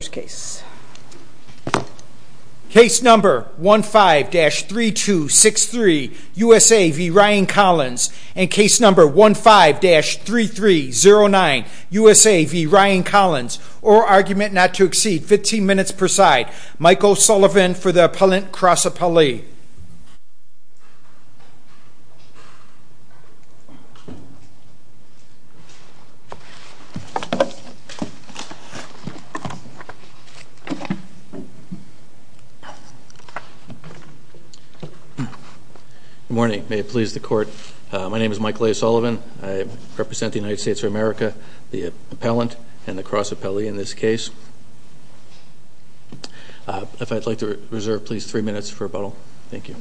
case number 15-3263 USA v. Ryan Collins and case number 15-3309 USA v. Ryan Collins or argument not to exceed 15 minutes per side Michael Sullivan for the appellant cross appellee Good morning. May it please the court. My name is Michael A. Sullivan. I represent the United States of America, the appellant and the cross appellee in this case. If I'd like to reserve please three minutes for rebuttal. Thank you.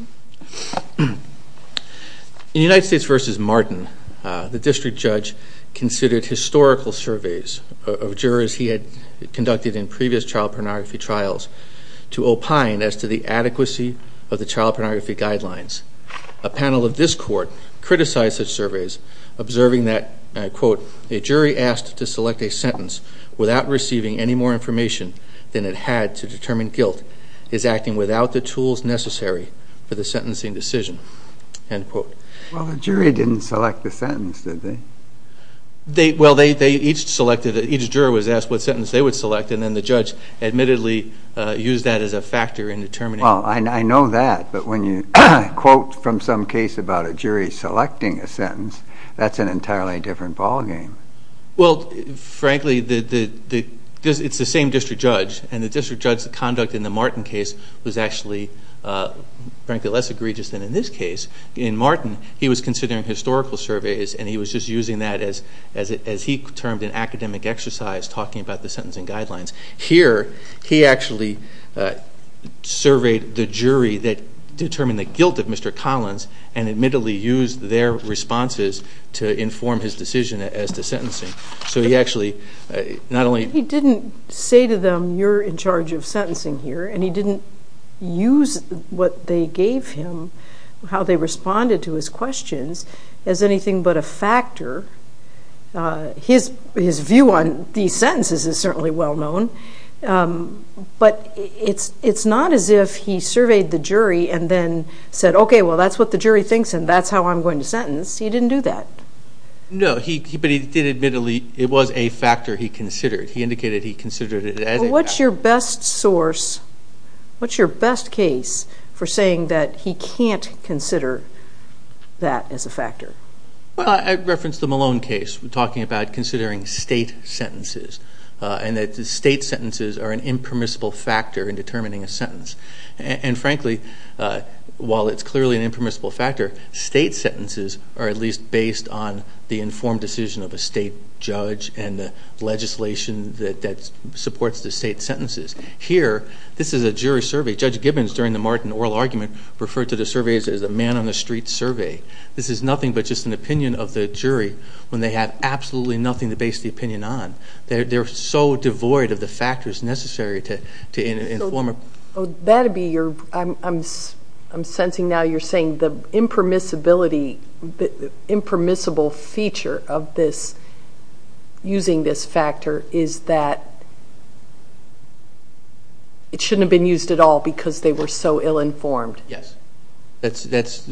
In United States v. Martin, the district judge considered historical surveys of jurors he had conducted in previous child pornography trials to opine as to the adequacy of the child pornography guidelines. A panel of this court criticized the surveys observing that, and I quote, a jury asked to select a sentence without receiving any more information than it had to determine guilt is acting without the tools necessary for the sentencing decision, end quote. Well the jury didn't select the sentence did they? They, well they each selected, each juror was asked what sentence they would select and then the judge admittedly used that as a factor in determining. Well I know that but when you quote from some case about a jury selecting a sentence that's an entirely different ballgame. Well frankly the, it's the same district judge and the district judge's conduct in the Martin case was actually frankly less egregious than in this case. In Martin he was considering historical surveys and he was just using that as, as he termed an academic exercise talking about the sentencing guidelines. Here he actually surveyed the jury that determined the guilt of Mr. Collins and admittedly used their responses to inform his decision as to sentencing. So he actually not only... He didn't say to them you're in charge of sentencing here and he didn't use what they gave him, how they considered it as a factor. His, his view on these sentences is certainly well known but it's, it's not as if he surveyed the jury and then said okay well that's what the jury thinks and that's how I'm going to sentence. He didn't do that. No he, but he did admittedly, it was a factor he considered. He indicated he considered it as a factor. What's your best source, what's your best case for saying that he can't consider that as a factor? Well I referenced the Malone case talking about considering state sentences and that the state sentences are an impermissible factor in determining a sentence and frankly while it's clearly an impermissible factor, state sentences are at least based on the informed decision of a state judge and the legislation that, that supports the state sentences. Here this is a jury survey. Judge Gibbons during the Martin Oral Argument referred to the surveys as a man-on-the-street survey. This is nothing but just an opinion of the jury when they have absolutely nothing to base the opinion on. They're, they're so devoid of the factors necessary to, to inform a... That'd be your, I'm, I'm sensing now you're saying the impermissibility, the impermissible feature of this, using this factor is that it shouldn't have been used at all because they were so ill-informed. Yes. That's, that's,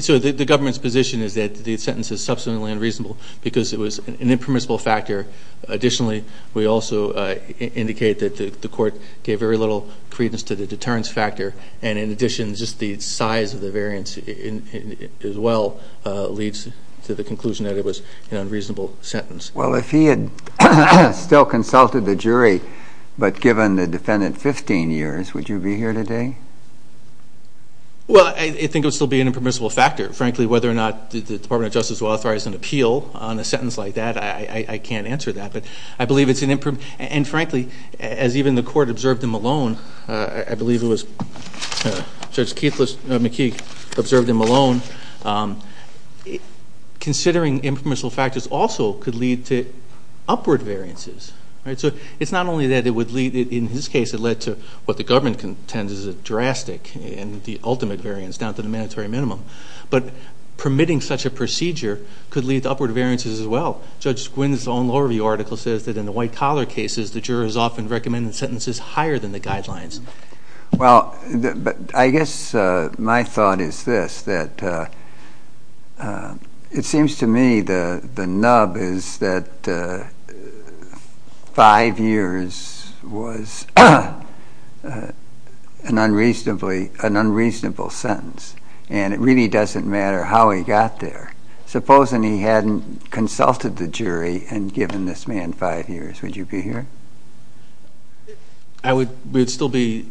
so the government's position is that the sentence is substantially unreasonable because it was an impermissible factor. Additionally we also indicate that the court gave very little credence to the deterrence factor and in addition just the size of the variance in, as well leads to the Well, I think it would still be an impermissible factor. Frankly, whether or not the Department of Justice will authorize an appeal on a sentence like that, I, I, I can't answer that, but I believe it's an imperm... And frankly, as even the court observed in Malone, I, I believe it was Judge Keithless, no, McKee, observed in Malone, considering impermissible factors also could lead to upward variances. Right, so it's not only that it would lead, in his case it led to what the government contends is a drastic and the ultimate variance down to the mandatory minimum, but permitting such a procedure could lead to upward variances as well. Judge Squinn's own law review article says that in the white-collar cases the jurors often recommend sentences higher than the guidelines. Well, but I guess my thought is this, that it seems to me the, the nub is that five years was an unreasonably, an unreasonable sentence and it really doesn't matter how he got there. Supposing he hadn't consulted the jury and given this man five years, would you be here? I would, would still be,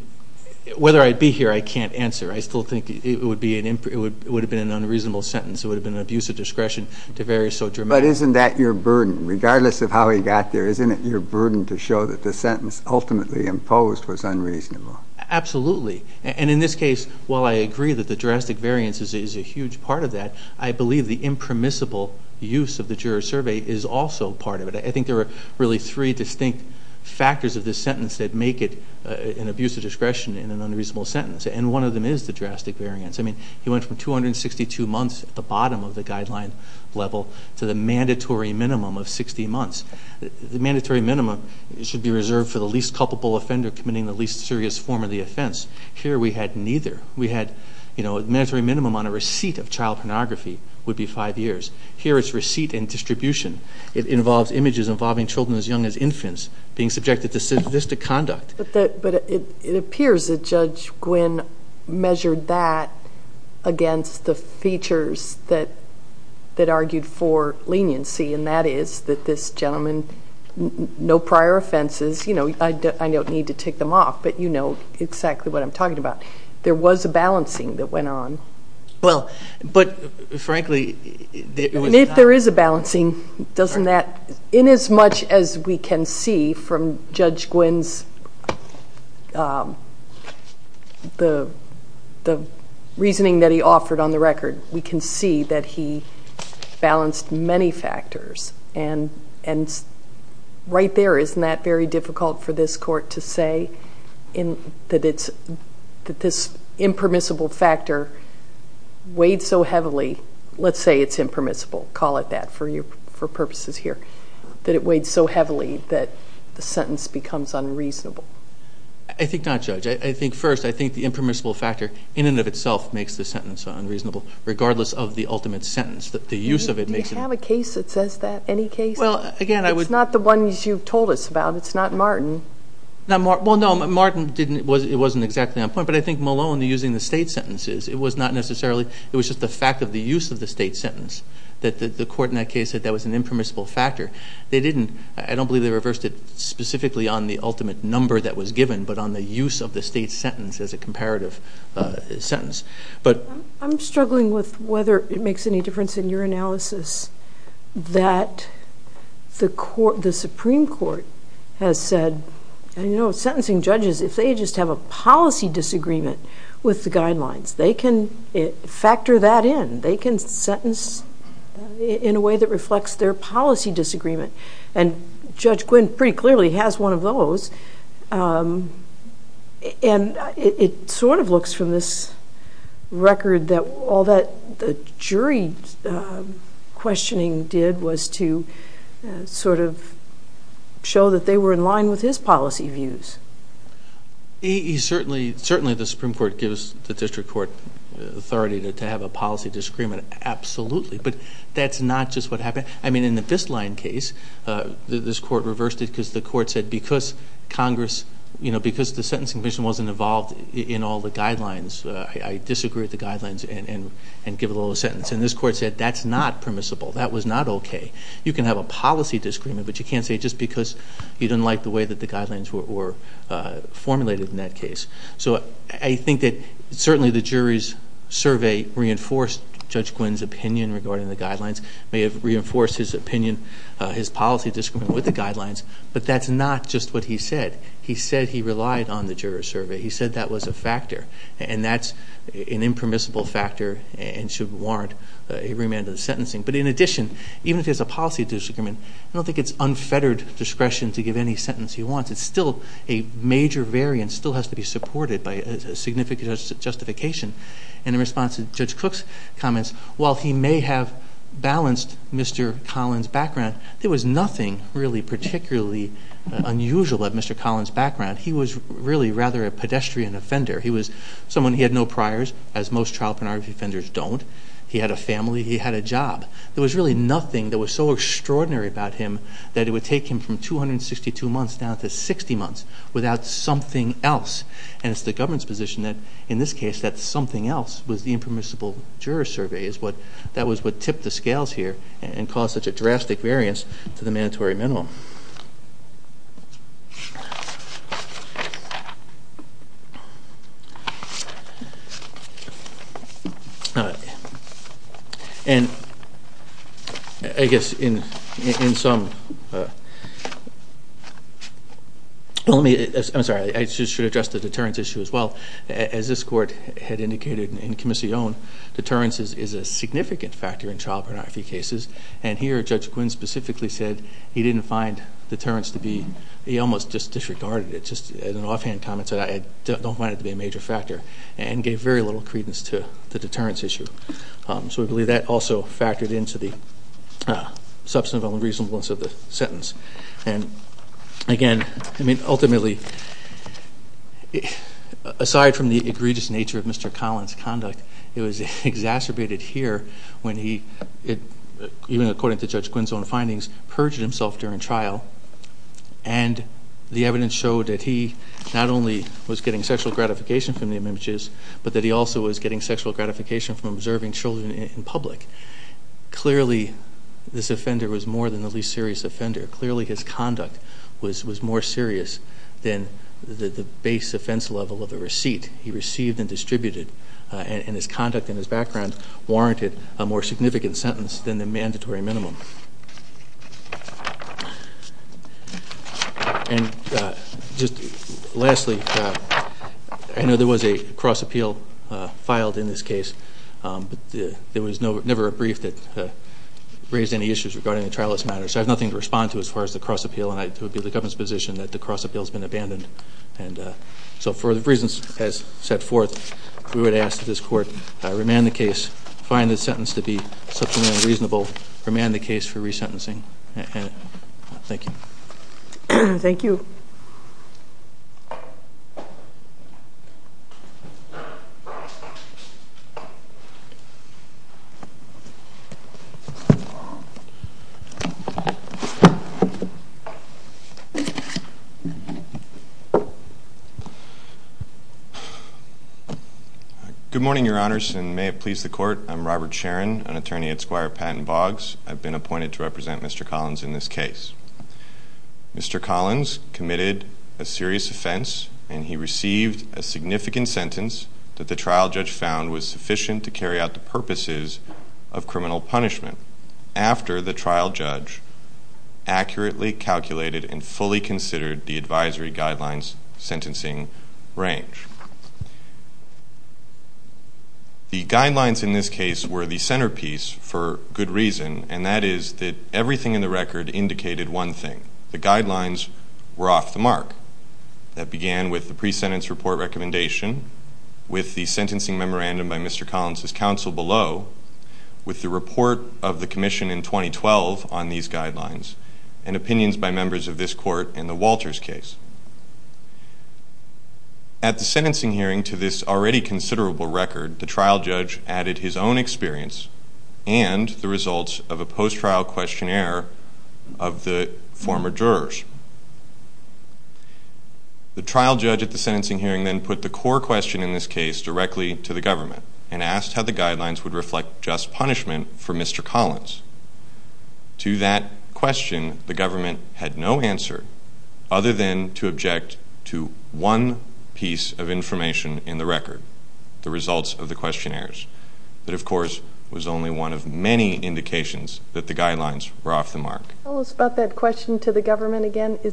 whether I'd be here, I can't answer. I still think it would be an, it would, it would have been an unreasonable sentence. It would have been an abuse of discretion to vary so dramatically. But isn't that your burden? Regardless of how he got there, isn't it your burden to show that the sentence ultimately imposed was unreasonable? Absolutely, and in this case, while I agree that the drastic variance is a huge part of that, I believe the impermissible use of the juror survey is also part of it. I think there are really three distinct factors of this sentence that make it an abuse of discretion in an unreasonable sentence, and one of them is the drastic variance. I mean, he went from 262 months at the bottom of the guideline level to the mandatory minimum of 60 months. The mandatory minimum should be reserved for the least culpable offender committing the least serious form of the offense. Here we had neither. We had, you know, a mandatory minimum on a receipt of child pornography would be five years. Here it's receipt and distribution. It involves images involving children as young as infants being subjected to sadistic conduct. But it appears that Judge Gwynne measured that against the features that argued for leniency, and that is that this gentleman, no prior offenses, you know, I don't need to tick them off, but you know exactly what I'm talking about. There was a balancing that went on. Well, but frankly, if there is a balancing, doesn't that, in as much as we can see from Judge Gwynne's, the reasoning that he offered on the record, we can see that he balanced many factors, and right there, isn't that very difficult for this court to say, in that it's, that this impermissible factor weighed so heavily, let's say it's impermissible, call it that for purposes here, that it weighed so heavily that the sentence becomes unreasonable? I think not, Judge. I think first, I think the impermissible factor, in and of itself, makes the sentence unreasonable, regardless of the ultimate sentence, that the use of it makes it. Do you have a case that says that? Any case? Well, again, I would. It's not the ones you've told us about. It's not Martin. Not Martin, well no, Martin didn't, it wasn't exactly on point, but I think Malone, using the state sentences, it was not necessarily, it was just the fact of the use of the state sentence, that the court in that case said that was an impermissible factor. They didn't, I don't believe they reversed it specifically on the ultimate number that was given, but on the use of the state sentence as a comparative sentence, but... I'm struggling with whether it makes any difference in your analysis that the court, the Supreme Court has said, and you know, sentencing judges, if they just have a policy disagreement with the guidelines, they can factor that in. They can sentence in a way that reflects their policy disagreement, and Judge Gwinn pretty clearly has one of those, and it sort of looks from this record that all that the jury questioning did was to sort of show that they were in line with his policy views. He certainly, certainly the Supreme Court authority to have a policy disagreement, absolutely, but that's not just what happened. I mean, in the Bisline case, this court reversed it because the court said because Congress, you know, because the Sentencing Commission wasn't involved in all the guidelines, I disagree with the guidelines and give a little sentence, and this court said that's not permissible, that was not okay. You can have a policy disagreement, but you can't say just because you didn't like the way that the guidelines were formulated in that case. So I think that certainly the jury's survey reinforced Judge Gwinn's opinion regarding the guidelines, may have reinforced his opinion, his policy disagreement with the guidelines, but that's not just what he said. He said he relied on the jury's survey. He said that was a factor, and that's an impermissible factor and should warrant a remand of the sentencing, but in addition, even if there's a policy disagreement, I don't think it's unfettered discretion to give any sentence he wants. It's still a major variance, still has to be supported by a significant justification, and in response to Judge Cook's comments, while he may have balanced Mr. Collins' background, there was nothing really particularly unusual of Mr. Collins' background. He was really rather a pedestrian offender. He was someone, he had no priors, as most child pornography offenders don't. He had a family, he had a job. There was really nothing that was so extraordinary about him that it would take him from 262 months down to 60 months without something else, and it's the government's position that, in this case, that something else was the impermissible juror's survey. That was what tipped the scales here and caused such a drastic variance to the I'm sorry, I should address the deterrence issue as well. As this court had indicated in Comisión, deterrence is a significant factor in child pornography cases, and here Judge Quinn specifically said he didn't find deterrence to be, he almost just disregarded it, just as an offhand comment, said I don't find it to be a major factor, and gave very little credence to the deterrence issue. So we believe that also factored into the substantive unreasonableness of the sentence. And again, I mean ultimately, aside from the egregious nature of Mr. Collins' conduct, it was exacerbated here when he, even according to Judge Quinn's own findings, purged himself during trial, and the evidence showed that he not only was getting sexual gratification from the observing children in public, clearly this offender was more than the least serious offender. Clearly his conduct was more serious than the base offense level of the receipt he received and distributed, and his conduct and his background warranted a more significant sentence than the mandatory minimum. And just lastly, I know there was a cross appeal filed in this case, but there was never a brief that raised any issues regarding the trialist matter, so I have nothing to respond to as far as the cross appeal, and it would be the government's position that the cross appeal has been abandoned. And so for the reasons as set forth, we would ask that this court remand the case, find the case for resentencing, and thank you. Thank you. Good morning, your honors, and may it please the court. I'm Robert I'm appointed to represent Mr. Collins in this case. Mr. Collins committed a serious offense, and he received a significant sentence that the trial judge found was sufficient to carry out the purposes of criminal punishment after the trial judge accurately calculated and fully considered the advisory guidelines sentencing range. The guidelines in this case were the that everything in the record indicated one thing. The guidelines were off the mark. That began with the pre-sentence report recommendation, with the sentencing memorandum by Mr. Collins' counsel below, with the report of the commission in 2012 on these guidelines, and opinions by members of this court in the Walters case. At the sentencing hearing to this already considerable record, the trial judge added his own experience and the results of a post-trial questionnaire of the former jurors. The trial judge at the sentencing hearing then put the core question in this case directly to the government and asked how the guidelines would reflect just punishment for Mr. Collins. To that question, the government had no answer other than to object to one piece of information in the record, the results of the questionnaires. That, of course, was only one of many indications that the guidelines were off the mark. Tell us about that question to the government again. Is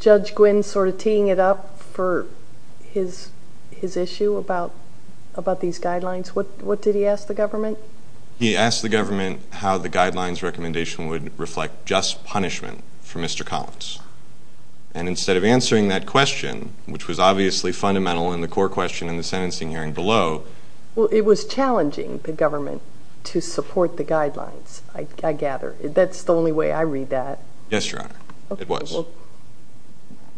Judge Gwynne sort of teeing it up for his issue about these guidelines? What did he ask the government? He asked the government how the guidelines recommendation would reflect just punishment for Mr. Collins. And instead of answering that question, which was obviously fundamental in the core question in the sentencing hearing below, it was challenging the government to support the guidelines, I gather. That's the only way I read that. Yes, Your Honor. It was.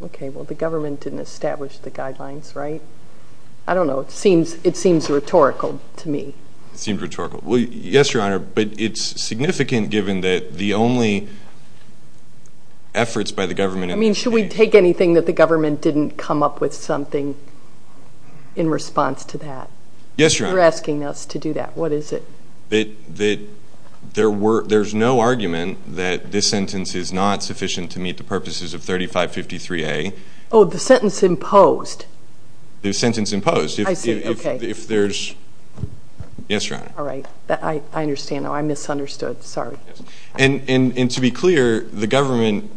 Okay, well the government didn't establish the guidelines, right? I don't know. It seems rhetorical to me. It seems rhetorical. Well, yes, Your Honor, but it's significant given that the only efforts by the government... I mean, should we take anything that the government didn't come up with something in response to that? Yes, Your Honor. You're asking us to do that. What is it? There's no argument that this sentence is not sufficient to meet the purposes of 3553A. Oh, the sentence imposed? The sentence imposed. I see, okay. If there's... Yes, Your Honor. All right. I understand. I misunderstood. Sorry. And to be clear, the government,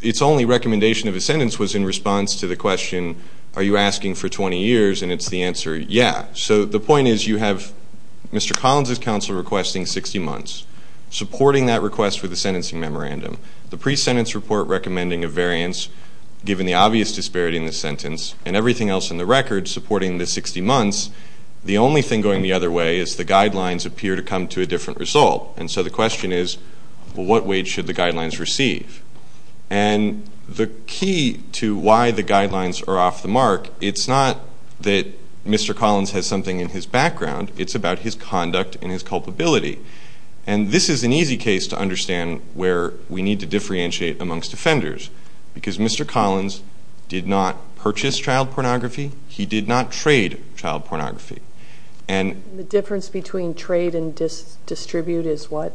its only recommendation of a 60-months to the question, are you asking for 20 years? And it's the answer, yeah. So the point is you have Mr. Collins' counsel requesting 60 months, supporting that request with the sentencing memorandum, the pre-sentence report recommending a variance given the obvious disparity in the sentence, and everything else in the record supporting the 60 months. The only thing going the other way is the guidelines appear to come to a different result. And so the receive. And the key to why the guidelines are off the mark, it's not that Mr. Collins has something in his background. It's about his conduct and his culpability. And this is an easy case to understand where we need to differentiate amongst offenders. Because Mr. Collins did not purchase child pornography. He did not trade child pornography. And the difference between trade and distribute is what?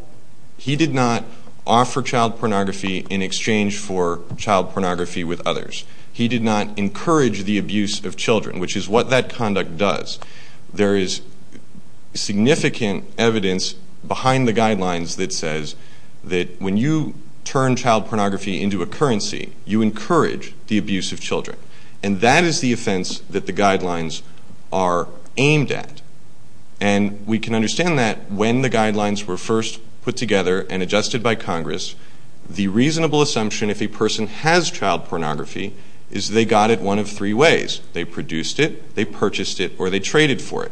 He did not offer child pornography in exchange for child pornography with others. He did not encourage the abuse of children, which is what that conduct does. There is significant evidence behind the guidelines that says that when you turn child pornography into a currency, you encourage the abuse of children. And that is the offense that the guidelines are And understand that when the guidelines were first put together and adjusted by Congress, the reasonable assumption if a person has child pornography is they got it one of three ways. They produced it, they purchased it, or they traded for it.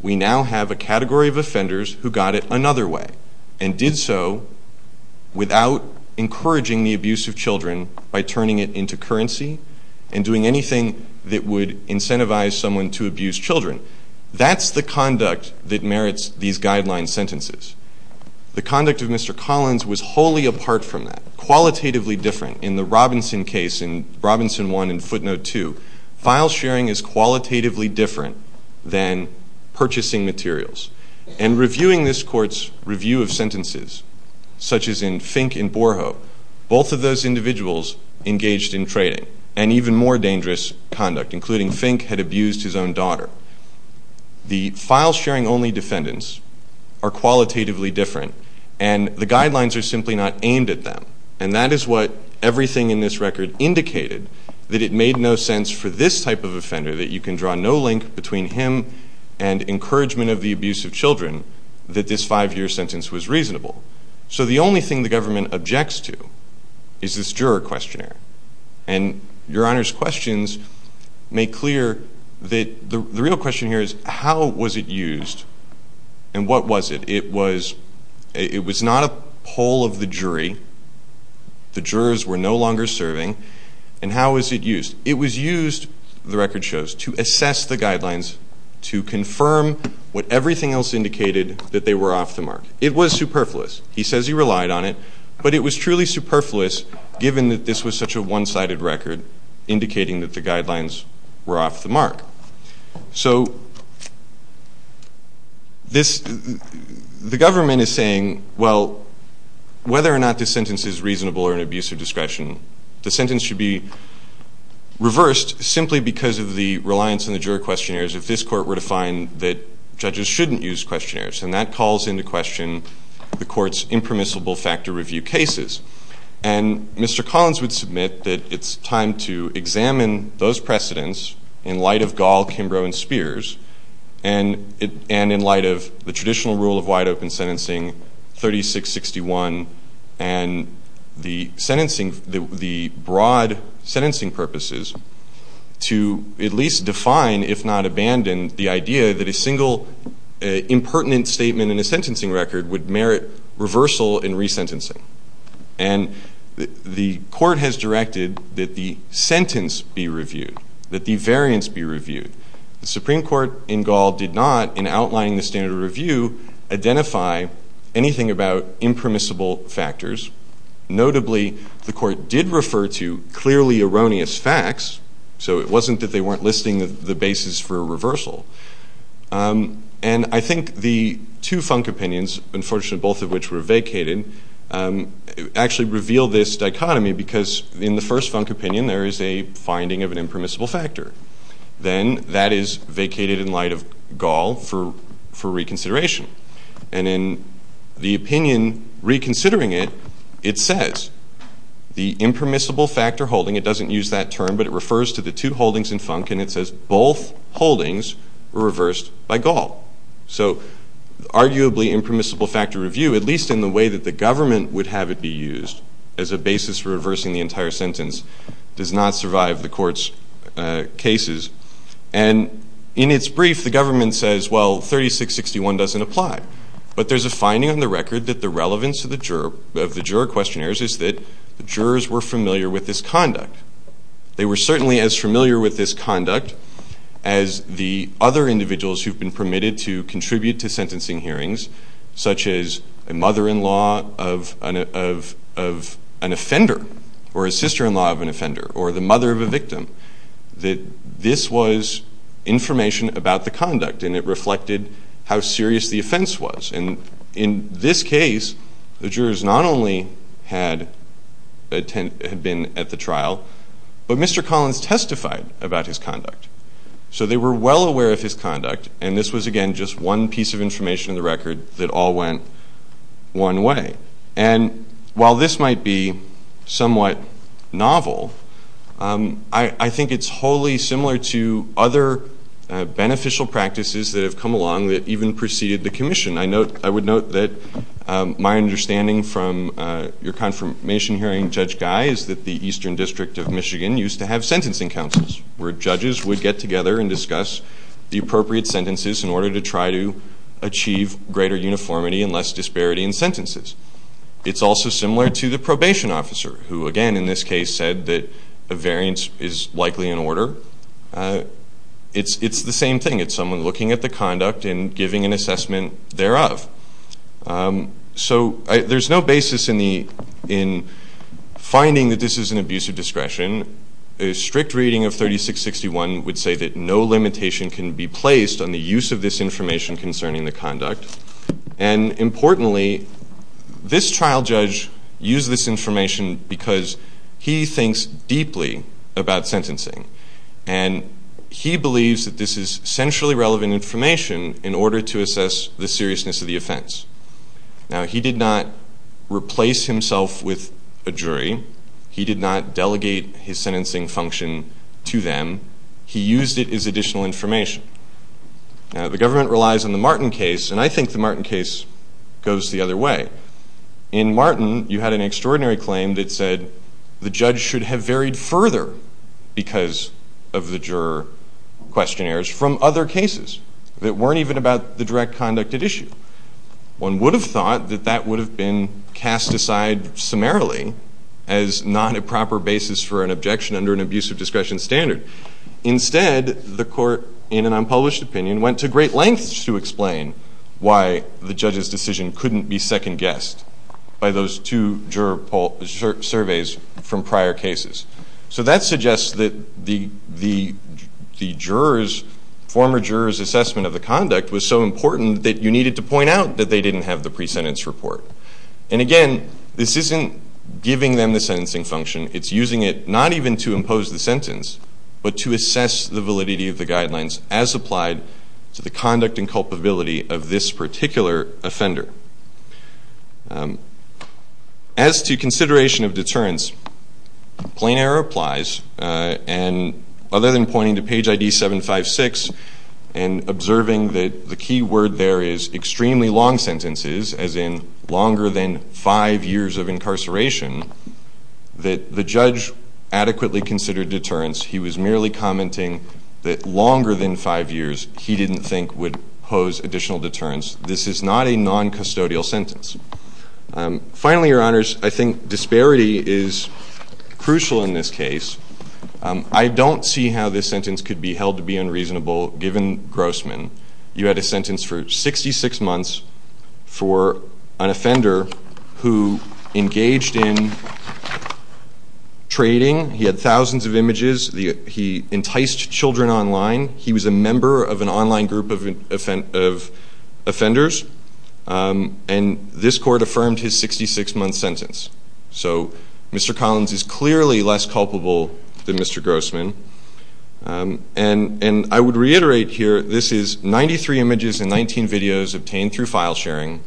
We now have a category of offenders who got it another way and did so without encouraging the abuse of children by turning it into currency and doing anything that would incentivize someone to abuse children. That's the conduct that merits these guidelines sentences. The conduct of Mr. Collins was wholly apart from that. Qualitatively different. In the Robinson case, in Robinson 1 and Footnote 2, file sharing is qualitatively different than purchasing materials. And reviewing this court's review of sentences, such as in Fink and Borho, both of those individuals engaged in trading. And even more dangerous conduct, including Fink had abused his own daughter. The file sharing only defendants are qualitatively different. And the guidelines are simply not aimed at them. And that is what everything in this record indicated, that it made no sense for this type of offender, that you can draw no link between him and encouragement of the abuse of children, that this five year sentence was reasonable. So the only thing the government objects to is this juror questionnaire. And your make clear that the real question here is how was it used? And what was it? It was, it was not a poll of the jury. The jurors were no longer serving. And how was it used? It was used, the record shows, to assess the guidelines, to confirm what everything else indicated that they were off the mark. It was superfluous. He says he relied on it. But it was truly superfluous given that this was such a one-sided record indicating that the guidelines were off the mark. So, this, the government is saying, well, whether or not this sentence is reasonable or an abuse of discretion, the sentence should be reversed simply because of the reliance on the juror questionnaires if this court were to find that judges shouldn't use questionnaires. And that calls into question the court's impermissible factor review cases. And Mr. Collins would submit that it's time to examine those precedents in light of Gall, Kimbrough, and Spears, and in light of the traditional rule of wide open sentencing, 3661, and the broad sentencing purposes to at least define, if not abandon, the idea that a single impertinent statement in a sentencing record would merit reversal and resentencing. And the court has directed that the sentence be reviewed, that the variance be reviewed. The Supreme Court in Gall did not, in outlining the standard of review, identify anything about impermissible factors. Notably, the court did refer to clearly erroneous facts, so it wasn't that they weren't listing the basis for a reversal. And I think the two Funk opinions, unfortunately both of which were vacated, actually reveal this dichotomy because in the first Funk opinion there is a finding of an impermissible factor. Then that is vacated in light of Gall for reconsideration. And in the opinion reconsidering it, it says the impermissible factor holding, it doesn't use that term, but it refers to the two holdings reversed by Gall. So arguably impermissible factor review, at least in the way that the government would have it be used as a basis for reversing the entire sentence, does not survive the court's cases. And in its brief, the government says, well, 3661 doesn't apply. But there's a finding on the record that the relevance of the juror questionnaires is that the jurors were familiar with this conduct. They were certainly as familiar with this conduct as the other individuals who've been permitted to contribute to sentencing hearings, such as a mother-in-law of an offender, or a sister-in-law of an offender, or the mother of a victim, that this was information about the conduct and it reflected how serious the offense was. And in this case, the jurors not only had been at the trial, but Mr. Collins testified about his conduct. So they were well aware of his conduct, and this was, again, just one piece of information in the record that all went one way. And while this might be somewhat novel, I think it's wholly similar to other beneficial practices that have come along that even preceded the commission. I would note that my confirmation hearing, Judge Guy, is that the Eastern District of Michigan used to have sentencing councils, where judges would get together and discuss the appropriate sentences in order to try to achieve greater uniformity and less disparity in sentences. It's also similar to the probation officer, who, again, in this case said that a variance is likely an order. It's the same thing. It's someone looking at the conduct and giving an opinion. In finding that this is an abuse of discretion, a strict reading of 3661 would say that no limitation can be placed on the use of this information concerning the conduct. And importantly, this trial judge used this information because he thinks deeply about sentencing. And he believes that this is centrally relevant information in order to assess the seriousness of the offense. Now, he did not replace himself with a jury. He did not delegate his sentencing function to them. He used it as additional information. Now, the government relies on the Martin case, and I think the Martin case goes the other way. In Martin, you had an extraordinary claim that said the judge should have varied further because of the juror questionnaires from other cases that weren't even about the direct conduct at issue. One would have thought that that would have been cast aside summarily as not a proper basis for an objection under an abuse of discretion standard. Instead, the court, in an unpublished opinion, went to great lengths to explain why the judge's decision couldn't be second guessed by those two juror surveys from prior cases. So that suggests that the juror's, former juror's assessment of the conduct was so important that you needed to point out that they didn't have the pre-sentence report. And again, this isn't giving them the sentencing function. It's using it not even to impose the sentence, but to assess the validity of the guidelines as applied to the conduct and culpability of this particular offender. As to consideration of deterrence, plain error applies. And other than pointing to page ID 756 and observing that the key word there is extremely long sentences, as in longer than five years of incarceration, that the judge adequately considered deterrence. He was merely commenting that longer than five years he didn't think would pose additional deterrence. This is not a non-custodial sentence. Finally, Your Honors, I think disparity is crucial in this case. I don't see how this sentence could be held to be unreasonable given Grossman. You had a sentence for 66 months for an offender who engaged in trading. He had thousands of images. He enticed children online. He was a member of an online group of offenders. And this court affirmed his 66-month sentence. So Mr. Collins is clearly less culpable than Mr. Grossman. And I would reiterate here, this is 93 images and 19 videos obtained through file sharing.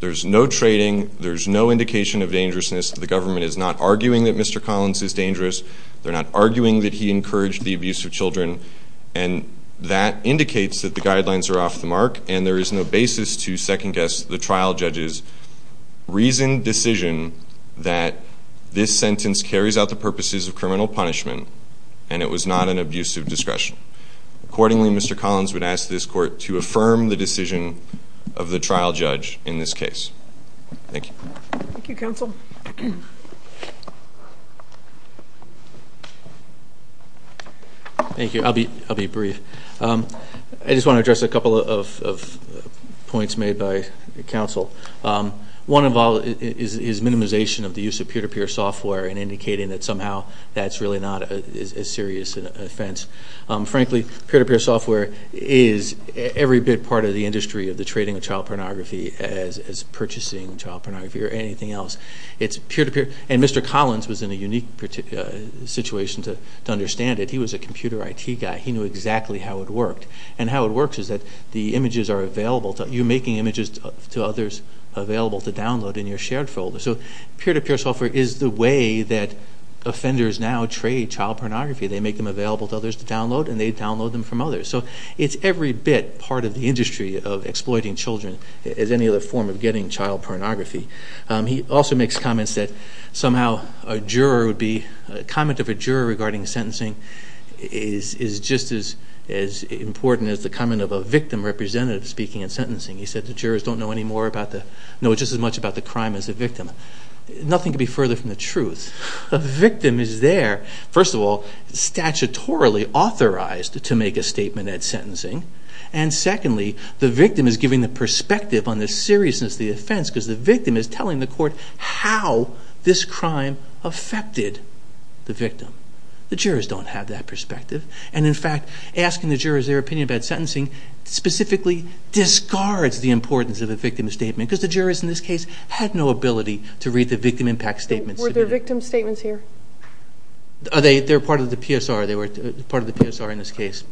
There's no trading. There's no indication of dangerousness. The government is not arguing that Mr. Collins is dangerous. They're not arguing that he encouraged the abuse of children. And that indicates that the guidelines are off the mark. And there is no basis to second-guess the trial judges. Reason, decision that this sentence carries out the purposes of criminal punishment and it was not an abuse of discretion. Accordingly, Mr. Collins would ask this court to affirm the decision of the trial judge in this case. Thank you. Thank you, counsel. Thank you. I'll be brief. I just want to address a couple of points made by counsel. One of all is minimization of the use of peer-to-peer software and indicating that somehow that's really not as serious an offense. Frankly, peer-to-peer software is every bit part of the industry of the trading of child pornography as purchasing child pornography or anything else. It's peer-to-peer and Mr. Collins was in a unique particular situation to understand it. He was a computer IT guy. He knew exactly how it worked. And how it works is that the child is made available to others, available to download in your shared folder. So peer-to-peer software is the way that offenders now trade child pornography. They make them available to others to download and they download them from others. So it's every bit part of the industry of exploiting children as any other form of getting child pornography. He also makes comments that somehow a juror would be, a comment of a juror regarding sentencing is just as important as the comment of a victim representative speaking in sentencing. He said the jurors don't know any more about the, know just as much about the crime as the victim. Nothing could be further from the truth. The victim is there, first of all, statutorily authorized to make a statement at sentencing. And secondly, the victim is giving the perspective on the seriousness of the offense because the victim is telling the court how this crime affected the victim. The jurors don't have that perspective. And in fact, asking the jurors their opinion about this crime specifically discards the importance of a victim's statement because the jurors in this case had no ability to read the victim impact statements. Were there victim statements here? They're part of the PSR. They were part of the PSR in this case.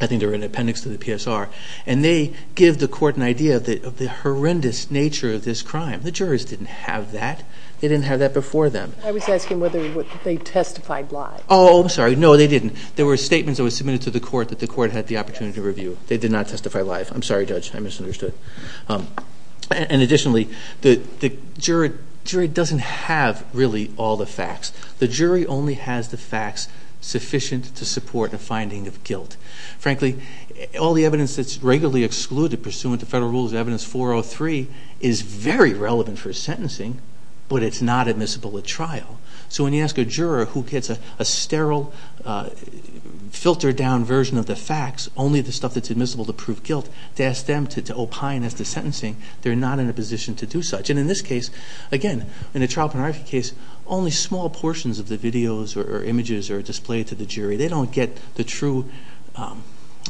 I think they were in appendix to the PSR. And they give the court an idea of the horrendous nature of this crime. The jurors didn't have that. They didn't have that before them. I was asking whether they testified live. Oh, I'm sorry. No, they didn't. There were statements that were submitted to the court that the court had the opportunity to review. They did not testify live. I'm sorry, Judge. I misunderstood. And additionally, the jury doesn't have really all the facts. The jury only has the facts sufficient to support a finding of guilt. Frankly, all the evidence that's regularly excluded pursuant to federal rules, Evidence 403, is very relevant for sentencing, but it's not admissible at trial. So when you ask a juror who gets a proved guilt, to ask them to opine as to sentencing, they're not in a position to do such. And in this case, again, in a child pornography case, only small portions of the videos or images are displayed to the jury. They don't get the true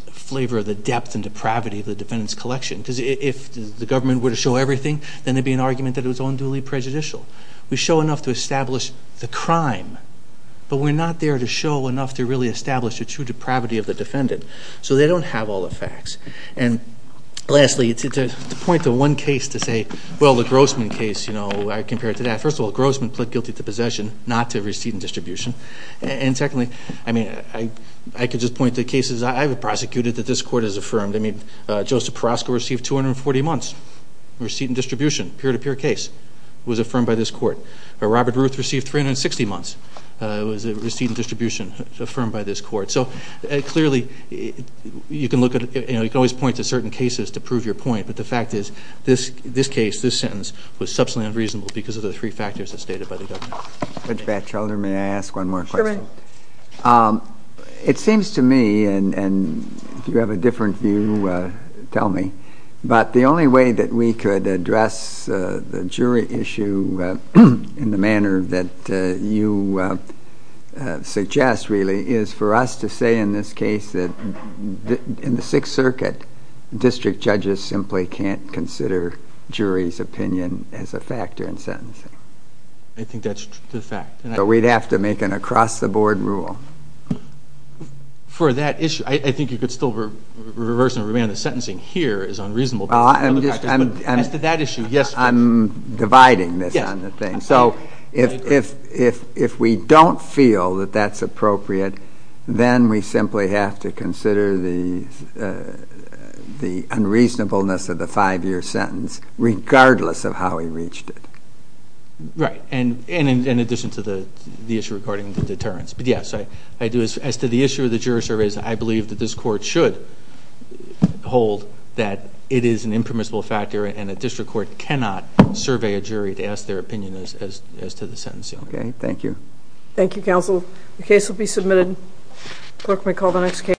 flavor of the depth and depravity of the defendant's collection. Because if the government were to show everything, then there'd be an argument that it was unduly prejudicial. We show enough to establish the crime, but we're not there to show enough to really establish the true depravity of the defendant. So they don't have all the facts. And lastly, to point to one case to say, well, the Grossman case, you know, I compare it to that. First of all, Grossman pled guilty to possession, not to receipt and distribution. And secondly, I mean, I could just point to cases I've prosecuted that this court has affirmed. I mean, Joseph Peroska received 240 months receipt and distribution, peer-to-peer case, was affirmed by this court. Robert Ruth received 360 months receipt and distribution. You can look at, you know, you can always point to certain cases to prove your point. But the fact is, this case, this sentence, was substantially unreasonable because of the three factors that's stated by the government. Mr. Batchelder, may I ask one more question? Sure, Mayor. It seems to me, and if you have a different view, tell me, but the only way that we could address the jury issue in the manner that you suggest, really, is for us to say, in this case, that in the Sixth Circuit, district judges simply can't consider jury's opinion as a factor in sentencing. I think that's the fact. But we'd have to make an across-the-board rule. For that issue, I think you could still reverse and remand the sentencing here is unreasonable. Well, I'm just, I'm dividing this on the thing. So, if we don't feel that that's appropriate, then we simply have to consider the unreasonableness of the five-year sentence, regardless of how we reached it. Right, and in addition to the issue regarding the deterrence. But yes, I do, as to the issue of the jury surveys, I believe that this court should hold that it is an impermissible factor and a district court cannot survey a jury to ask their opinion as to the sentencing. Okay, thank you. Thank you, counsel. The case will be submitted. Clerk may call the next case.